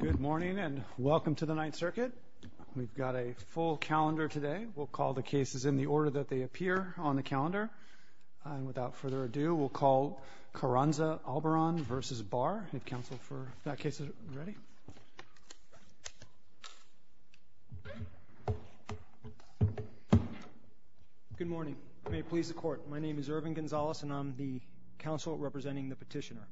Good morning, and welcome to the Ninth Circuit. We've got a full calendar today. We'll call the cases in the order that they appear on the calendar. And without further ado, we'll call Carranza-Albarran v. Barr. I need counsel for that case. Are you ready? Good morning. May it please the court. My name is Irvin Gonzalez, and I'm the counsel representing the petitioner.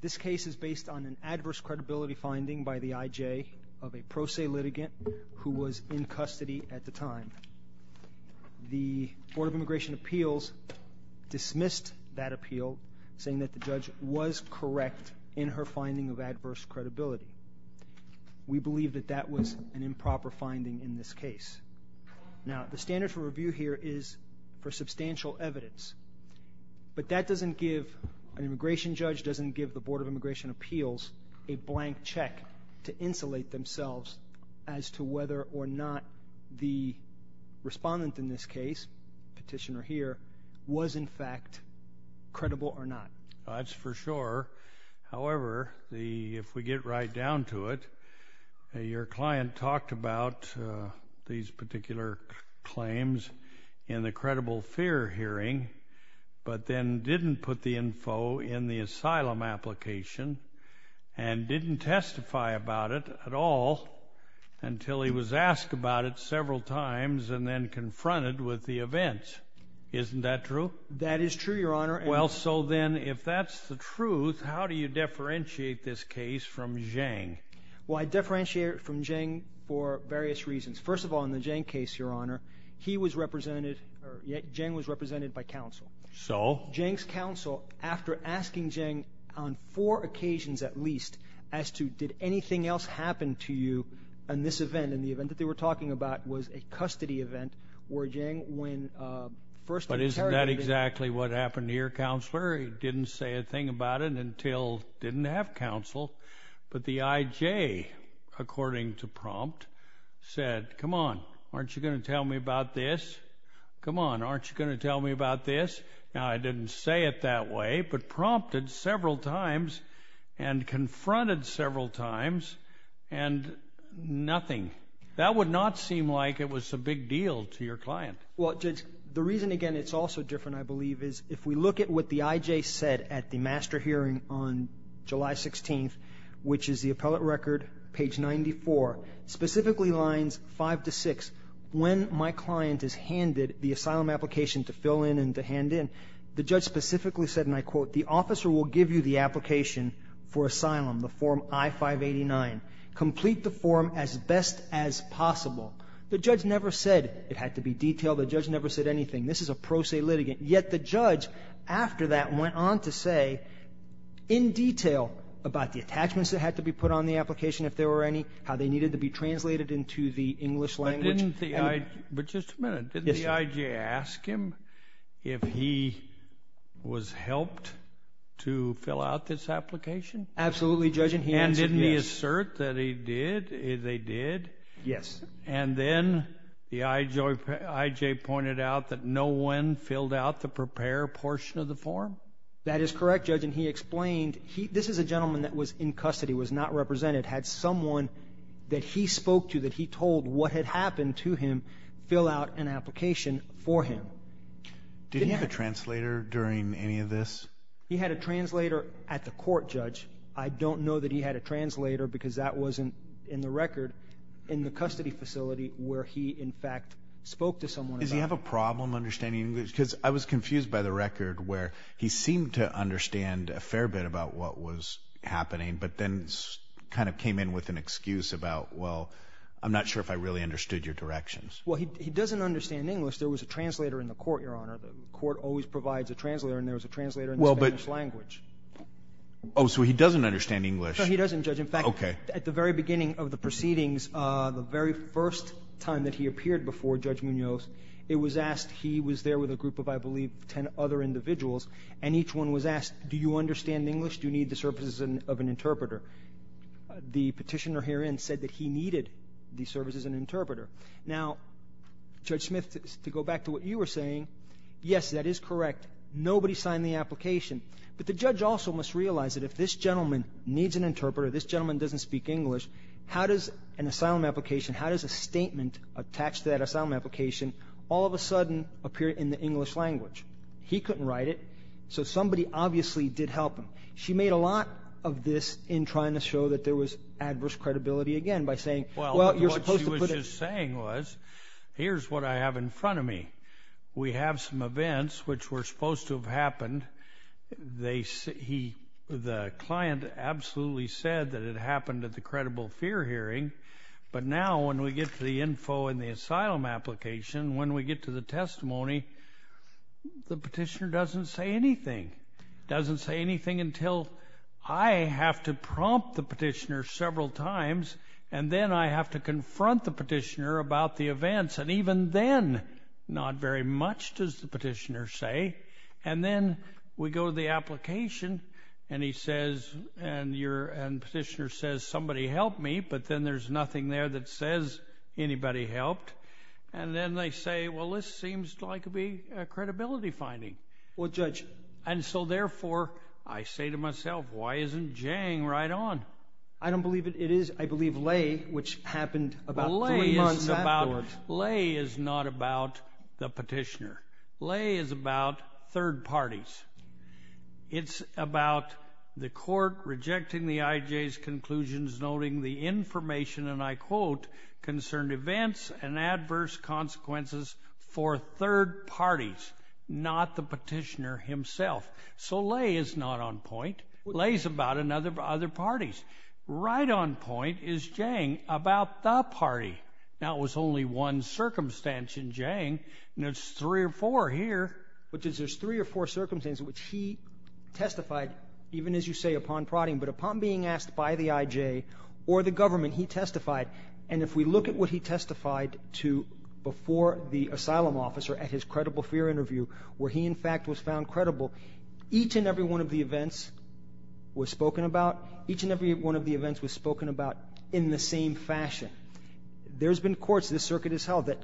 This case is based on an adverse credibility finding by the I.J. of a pro se litigant who was in custody at the time. The Board of Immigration Appeals dismissed that appeal, saying that the judge was correct in her finding of adverse credibility. We believe that that was an improper finding in this case. Now, the standard for review here is for substantial evidence, but that doesn't give... An immigration judge doesn't give the Board of Immigration Appeals a blank check to insulate themselves as to whether or not the respondent in this case, petitioner here, was in fact credible or not. That's for sure. However, if we get right down to it, your client talked about these particular claims in the credible fear hearing, but then didn't put the info in the asylum application and didn't testify about it at all until he was asked about it several times and then confronted with the events. Isn't that true? That is true, Your Honor. Well, so then, if that's the truth, how do you differentiate this case from Zhang? Well, I differentiate it from Zhang for various reasons. First of all, in the Zhang case, Your Honor, he was represented... Zhang was represented by counsel. So? Zhang's counsel, after asking Zhang on four occasions at least as to, did anything else happen to you in this event, in the event that they were talking about was a custody event, where Zhang, when first interrogated... But isn't that exactly what happened here, Counselor? He didn't say a thing about it until didn't have counsel, but the IJ, according to prompt, said, Come on, aren't you gonna tell me about this? Now, I didn't say it that way, but prompted several times and confronted several times and nothing. That would not seem like it was a big deal to your client. Well, Judge, the reason, again, it's also different, I believe, is if we look at what the IJ said at the master hearing on July 16th, which is the appellate record, page 94, specifically lines 5 to 6, when my client is handed the asylum application to fill in and to hand in, the judge specifically said, and I quote, The officer will give you the application for asylum, the form I-589. Complete the form as best as possible. The judge never said it had to be detailed. The judge never said anything. This is a pro se litigant. Yet the judge, after that, went on to say in detail about the attachments that had to be translated into the English language. But didn't the I... But just a minute, didn't the IJ ask him if he was helped to fill out this application? Absolutely, Judge, and he answered yes. And didn't he assert that he did? They did? Yes. And then the IJ pointed out that no one filled out the prepare portion of the form? That is correct, Judge, and he explained, this is a gentleman that was in custody, was not represented, had someone that he spoke to, that he told what had happened to him, fill out an application for him. Did he have a translator during any of this? He had a translator at the court, Judge. I don't know that he had a translator because that wasn't in the record in the custody facility where he, in fact, spoke to someone. Does he have a problem understanding English? Because I was confused by the record where he seemed to understand a fair bit about what was going on, and I kind of came in with an excuse about, well, I'm not sure if I really understood your directions. Well, he doesn't understand English. There was a translator in the court, Your Honor. The court always provides a translator, and there was a translator in the Spanish language. Oh, so he doesn't understand English? No, he doesn't, Judge. In fact, at the very beginning of the proceedings, the very first time that he appeared before Judge Munoz, it was asked, he was there with a group of, I believe, 10 other individuals, and each one was asked, do you understand English? Do you need the services of an interpreter? The petitioner herein said that he needed the services of an interpreter. Now, Judge Smith, to go back to what you were saying, yes, that is correct. Nobody signed the application. But the judge also must realize that if this gentleman needs an interpreter, this gentleman doesn't speak English, how does an asylum application, how does a statement attached to that asylum application all of a sudden appear in the English language? He couldn't write it, so somebody obviously did help him. She made a lot of this in trying to show that there was adverse credibility again by saying, well, you're supposed to put... Well, what she was just saying was, here's what I have in front of me. We have some events which were supposed to have happened. The client absolutely said that it happened at the credible fear hearing, but now when we get to the info in the asylum application, when we get to the testimony, the petitioner doesn't say anything, doesn't say anything until I have to prompt the petitioner several times, and then I have to confront the petitioner about the events. And even then, not very much, does the petitioner say. And then we go to the application and he says, and the petitioner says, somebody helped me, but then there's nothing there that says anybody helped. And then they say, well, this seems like it'd be a credibility finding. Well, judge... And so therefore, I say to myself, why isn't Jang right on? I don't believe it is. I believe Lay, which happened about three months afterwards... Well, Lay is not about the petitioner. Lay is about third parties. It's about the court rejecting the IJ's conclusions, noting the information, and I quote, concerned events and adverse consequences for third parties, not the petitioner himself. So Lay is not on point. Lay is about other parties. Right on point is Jang, about the party. Now, it was only one circumstance in Jang, and there's three or four here, which is there's three or four circumstances in which he testified, even as you say, upon prodding, but upon being asked by the IJ or the government, he testified. And if we look at what he testified to before the asylum officer at his credible fear interview, where he, in fact, was found credible, each and every one of the events was spoken about. Each and every one of the events was spoken about in the same fashion. There's been courts, this circuit has held, that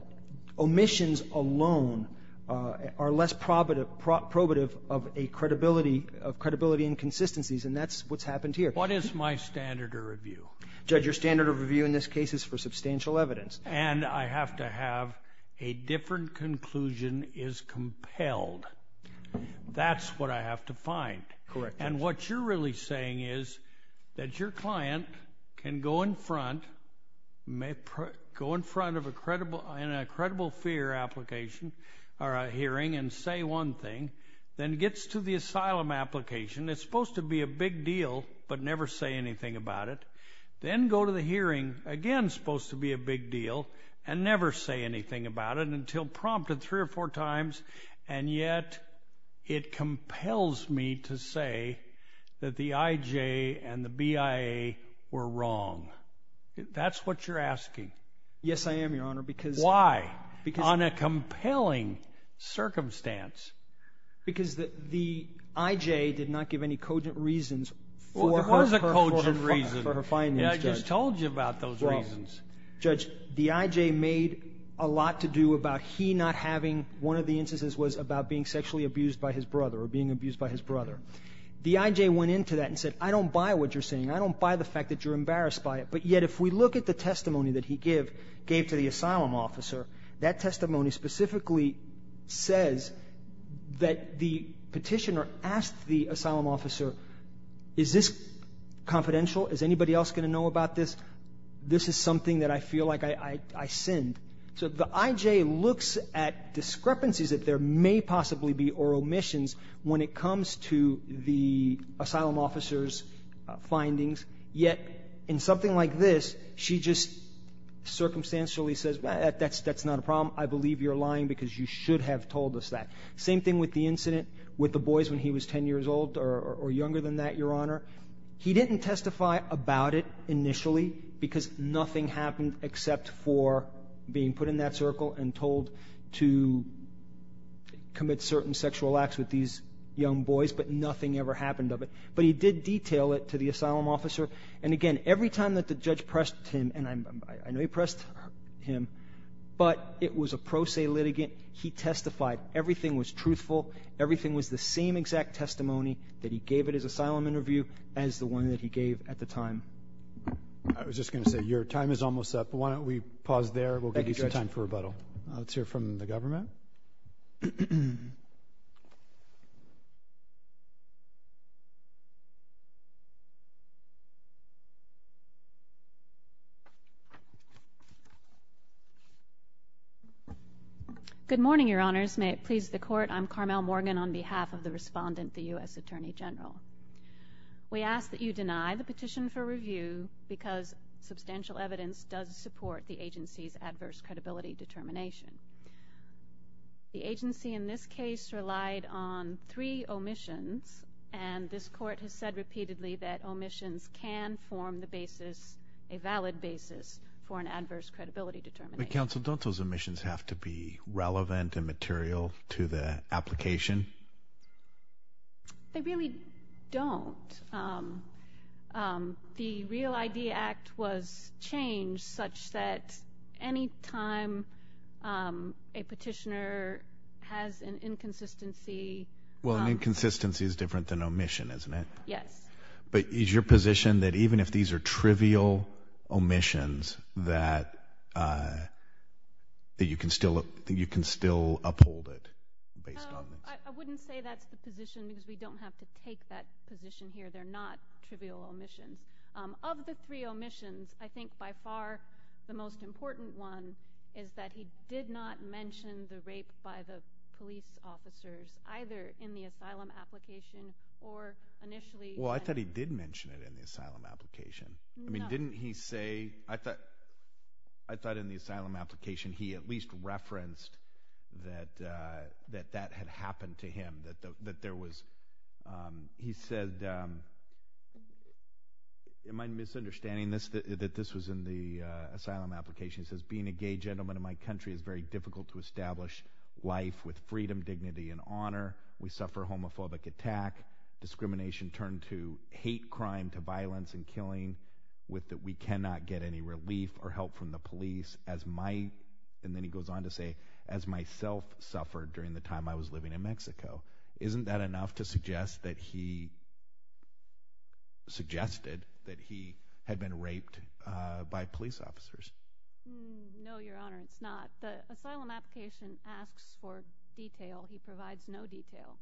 omissions alone are less probative of a credibility, of credibility and consistencies, and that's what's happened here. What is my standard of review? Judge, your standard of review in this case is for substantial evidence. And I have to have a different conclusion is compelled. That's what I have to find. Correct. And what you're really saying is that your client can go in front, may go in front of a credible, in a credible fear application, or a hearing and say one thing, then gets to the asylum application. It's supposed to be a big deal, but never say anything about it. Then go to the hearing, again, supposed to be a big deal, and never say anything about it until prompted three or four times, and yet it compels me to say that the IJ and the BIA were wrong. That's what you're asking. Yes, I am, Your Honor, because... Why? On a compelling circumstance. Because the IJ did not give any cogent reasons for her finding. I just told you about those reasons. Judge, the IJ made a lot to do about he not having... One of the instances was about being sexually abused by his brother, or being abused by his brother. The IJ went into that and said, I don't buy what you're saying. I don't buy the fact that you're embarrassed by it. But yet, if we look at the testimony that he gave to the asylum officer, that testimony specifically says that the petitioner asked the asylum officer, is this confidential? Is anybody else going to know about this? This is something that I feel like I sinned. So the IJ looks at discrepancies that there may possibly be, or omissions, when it comes to the asylum officer's findings. Yet, in something like this, she just circumstantially says, that's not a problem. I believe you're lying because you should have told us that. Same thing with the incident with the boys when he was 10 years old, or younger than that, Your Honor. He didn't testify about it initially, because nothing happened except for being put in that circle and told to commit certain sexual acts with these young boys. But nothing ever happened of it. But he did detail it to the asylum officer. And again, every time that the judge pressed him, and I know he pressed him, but it was a pro se litigant. He testified. Everything was truthful. Everything was the same exact testimony that he gave at his asylum interview as the one that he gave at the time. I was just going to say, your time is almost up. Why don't we pause there? We'll give you some time for rebuttal. Let's hear from the government. Good morning, Your Honors. May it please the court. I'm Carmel Morgan on behalf of the respondent, the US Attorney General. We ask that you deny the petition for review, because substantial evidence does support the agency's adverse credibility determination. The agency, in this case, relied on three omissions. And this court has said repeatedly that omissions can form the basis, a valid basis, for an adverse credibility determination. But counsel, don't those omissions have to be relevant and material to the application? They really don't. The Real ID Act was changed such that any time a petitioner has an inconsistency. Well, an inconsistency is different than an omission, isn't it? Yes. But is your position that even if these are trivial omissions, that you can still uphold it based on this? I wouldn't say that's the position, because we don't have to take that position here. They're not trivial omissions. Of the three omissions, I think by far the most important one is that he did not mention the rape by the police officers, either in the asylum application or initially. Well, I thought he did mention it in the asylum application. I mean, didn't he say? I thought in the asylum application he at least referenced that that had happened to him, that there was... He said, in my misunderstanding that this was in the asylum application, he says, being a gay gentleman in my country is very difficult to establish life with freedom, dignity, and honor. We suffer a homophobic attack. Discrimination turned to hate crime, to violence and killing, with that we cannot get any relief or help from the police as my... And then he goes on to say, as myself suffered during the time I was living in Mexico. Isn't that enough to suggest that he... Suggested that he had been raped by police officers? No, Your Honor, it's not. The asylum application asks for detail. He provides no detail.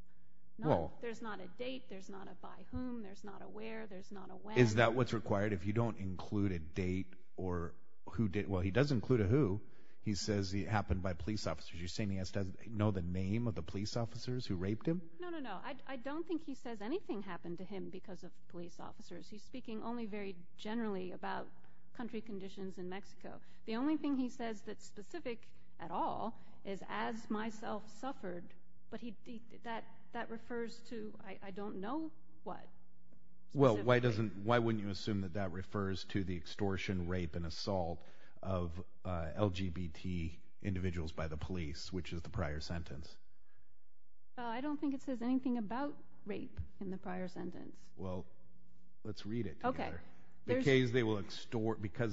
No, there's not a date, there's not a by whom, there's not a where, there's not a when. Is that what's required? If you don't include a date or who did... Well, he does include a who. He says it happened by police officers. You're saying he doesn't know the name of the police officers who raped him? No, no, no, I don't think he says anything happened to him because of police officers. He's speaking only very generally about country conditions in Mexico. The only thing he says that's specific at all is as myself suffered, but that refers to I don't know what. Well, why wouldn't you assume that that refers to the extortion, rape and assault of LGBT individuals by the police, which is the prior sentence? I don't think it says anything about rape in the prior sentence. Well, let's read it together. Because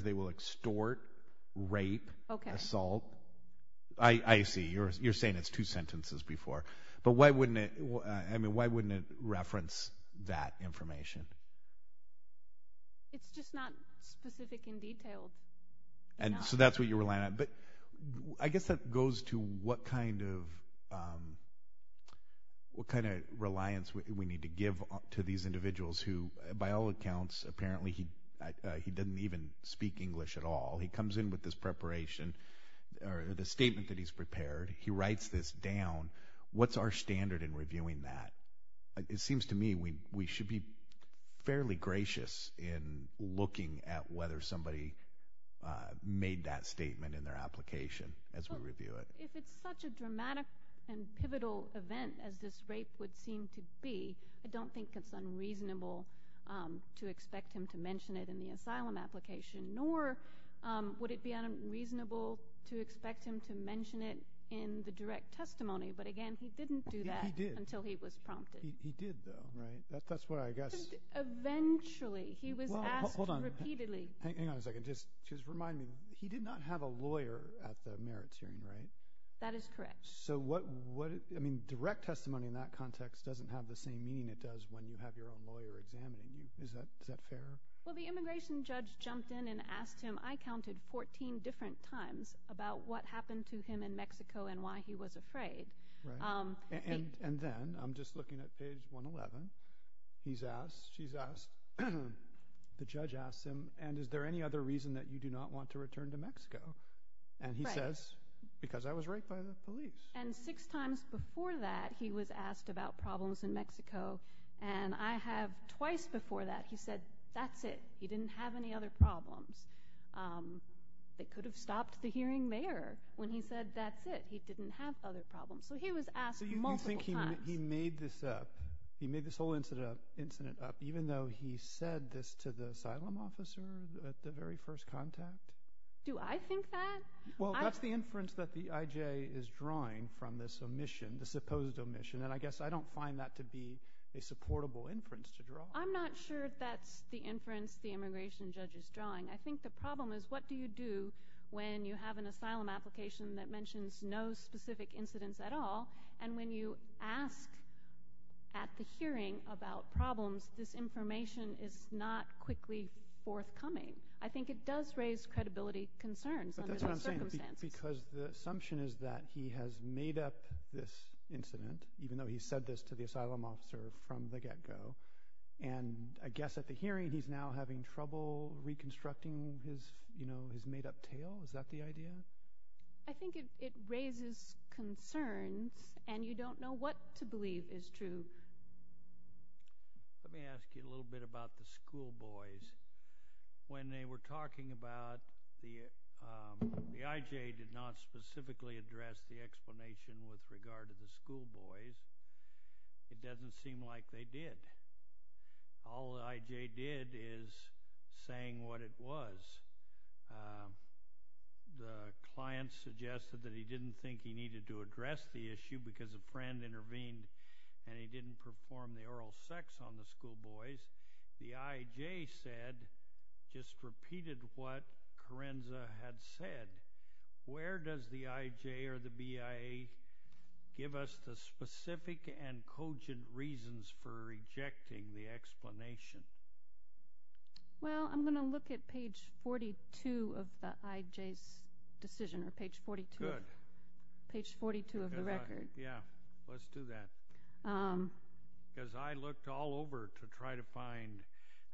they will extort, rape, assault. I see, you're saying it's two sentences before. But why wouldn't it reference that information? It's just not specific in detail. And so that's what you're relying on. But I guess that goes to what kind of what kind of reliance we need to give to these individuals who, by all accounts, apparently he he doesn't even speak English at all. He comes in with this preparation or the statement that he's prepared. He writes this down. What's our standard in reviewing that? It seems to me we we should be fairly gracious in looking at whether somebody made that statement in their application as we review it. If it's such a dramatic and pivotal event as this rape would seem to be, I don't think it's unreasonable to expect him to mention it in the asylum application, nor would it be unreasonable to expect him to mention it in the direct testimony. But again, he didn't do that until he was prompted. He did, though, right? That's what I guess. Eventually, he was asked repeatedly. Hang on a second. Just just remind me, he did not have a lawyer at the merits hearing, right? That is correct. So what what I mean, direct testimony in that context doesn't have the same meaning it does when you have your own lawyer examining you. Is that fair? Well, the immigration judge jumped in and asked him. I counted 14 different times about what happened to him in Mexico and why he was afraid. And and then I'm just looking at page 111. He's asked. She's asked. The judge asked him, and is there any other reason that you do not want to return to Mexico? And he says, because I was raped by the police. And six times before that, he was asked about problems in Mexico. And I have twice before that. He said, that's it. He didn't have any other problems. They could have stopped the hearing there when he said, that's it. He didn't have other problems. So he was asked. So you think he made this up? He made this whole incident up, even though he said this to the asylum officer at the very first contact. Do I think that? Well, that's the inference that the IJ is drawing from this omission, the supposed omission. And I guess I don't find that to be a supportable inference to draw. I'm not sure if that's the inference the immigration judge is drawing. I think the problem is, what do you do when you have an asylum application that mentions no specific incidents at all? And when you ask at the hearing about problems, this information is not quickly forthcoming. I think it does raise credibility concerns. Because the assumption is that he has made up this incident, even though he said this to the asylum officer from the get go. And I guess at the hearing, he's now having trouble reconstructing his, you know, his made up tale. Is that the idea? I think it raises concerns. And you don't know what to believe is true. Let me ask you a little bit about the schoolboys. When they were talking about the IJ did not specifically address the explanation with regard to the schoolboys, it doesn't seem like they did. All the IJ did is saying what it was. The client suggested that he didn't think he needed to address the issue because a friend intervened and he didn't perform the oral sex on the schoolboys. The IJ said, just repeated what Correnza had said, where does the IJ or the BIA give us the specific and cogent reasons for rejecting the explanation? Well, I'm going to look at page 42 of the IJ's decision, or page 42 of the record. Yeah, let's do that. Because I looked all over to try to find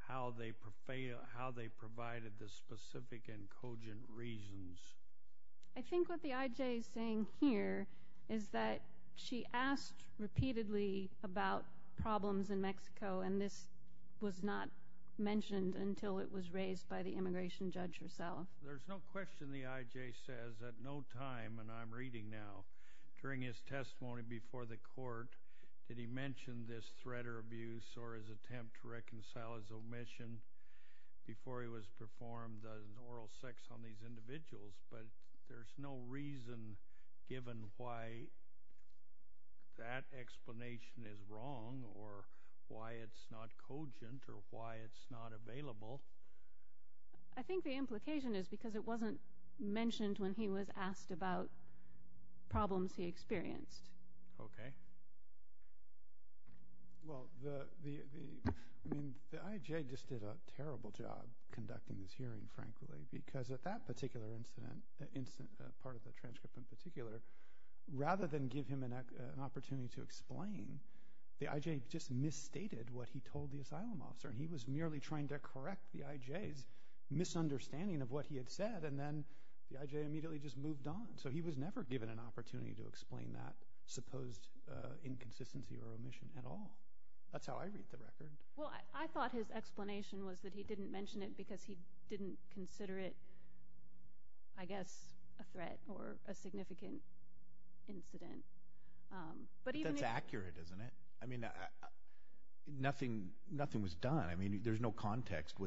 how they provided the specific and cogent reasons. I think what the IJ is saying here is that she asked repeatedly about problems in Mexico and this was not mentioned until it was raised by the immigration judge herself. There's no question the IJ says at no time, and I'm reading now, during his testimony before the court that he mentioned this threat or abuse or his attempt to reconcile his omission before he was performed an oral sex on these individuals. But there's no reason given why that explanation is wrong or why it's not cogent or why it's not available. I think the implication is because it wasn't mentioned when he was asked about problems he experienced. Okay. Well, the IJ just did a terrible job conducting this hearing, frankly, because at that particular incident, part of the transcript in particular, rather than give him an opportunity to explain, the IJ just misstated what he told the asylum officer. And he was merely trying to correct the IJ's misunderstanding of what he had said and then the IJ immediately just moved on. So he was never given an opportunity to explain that supposed inconsistency or omission at all. That's how I read the record. Well, I thought his explanation was that he didn't mention it because he didn't consider it, I guess, a threat or a significant incident. That's accurate, isn't it? I mean, nothing was done. I mean, there's no context. I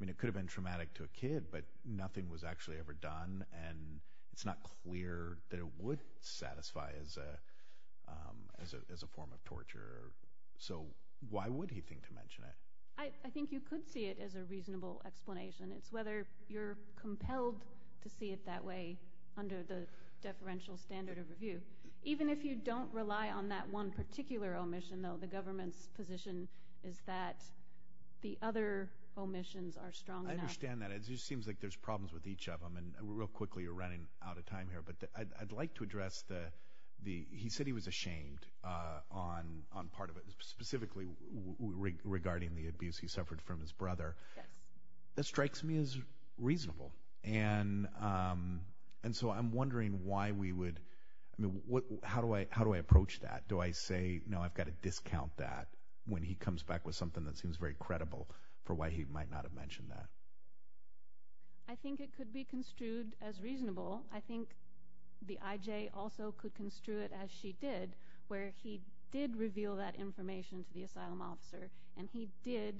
mean, it could have been traumatic to a kid, but nothing was actually ever done. And it's not clear that it would satisfy as a form of torture. So why would he think to mention it? I think you could see it as a reasonable explanation. It's whether you're compelled to see it that way under the deferential standard of review. Even if you don't rely on that one particular omission, though, the government's position is that the other omissions are strong enough. I understand that. It just seems like there's problems with each of them. And real quickly, we're running out of time here. But I'd like to address the, he said he was ashamed on part of it, specifically regarding the abuse he suffered from his brother. That strikes me as reasonable. And so I'm wondering why we would, I mean, how do I approach that? Do I say, no, I've got to discount that when he comes back with something that seems very credible for why he might not have mentioned that? I think it could be construed as reasonable. I think the IJ also could construe it as she did, where he did reveal that information to the asylum officer. And he did,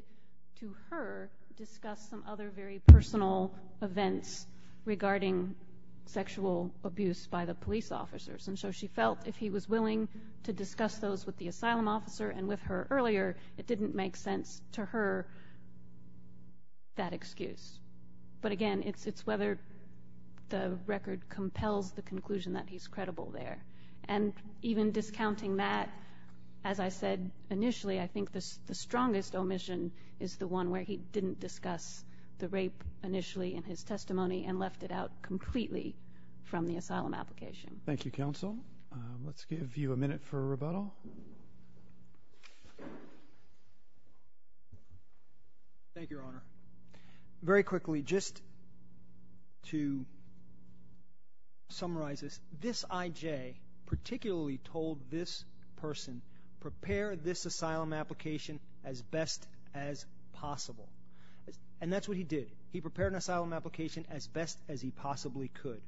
to her, discuss some other very personal events regarding sexual abuse by the police officers. And so she felt if he was willing to discuss those with the asylum officer and with her earlier, it didn't make sense to her that excuse. But again, it's whether the record compels the conclusion that he's credible there. And even discounting that, as I said initially, I think the strongest omission is the one where he didn't discuss the rape initially in his testimony and left it out completely from the asylum application. Thank you, Counsel. Let's give you a minute for a rebuttal. Thank you, Your Honor. Very quickly, just to summarize this, this IJ particularly told this person, prepare this asylum application as best as possible. And that's what he did. He prepared an asylum application as best as he possibly could.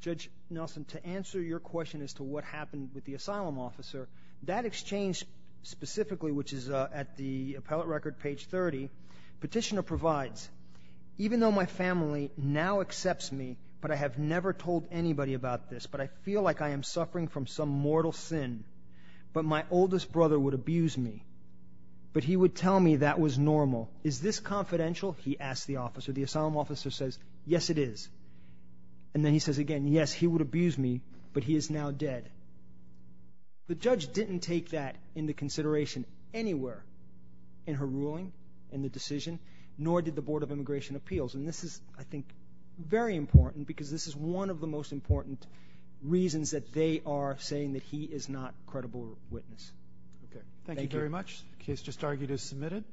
Judge Nelson, to answer your question as to what happened with the asylum officer, that exchange specifically, which is at the appellate record, page 30, petitioner provides, even though my family now accepts me, but I have never told anybody about this, but I feel like I am suffering from some mortal sin, but my oldest brother would abuse me, but he would tell me that was normal. Is this confidential, he asked the officer. The asylum officer says, yes, it is. And then he says again, yes, he would abuse me, but he is now dead. The judge didn't take that into consideration anywhere in her ruling and the decision, nor did the Board of Immigration Appeals. And this is, I think, very important because this is one of the most important reasons that they are saying that he is not credible witness. Okay. Thank you very much. Case just argued as submitted.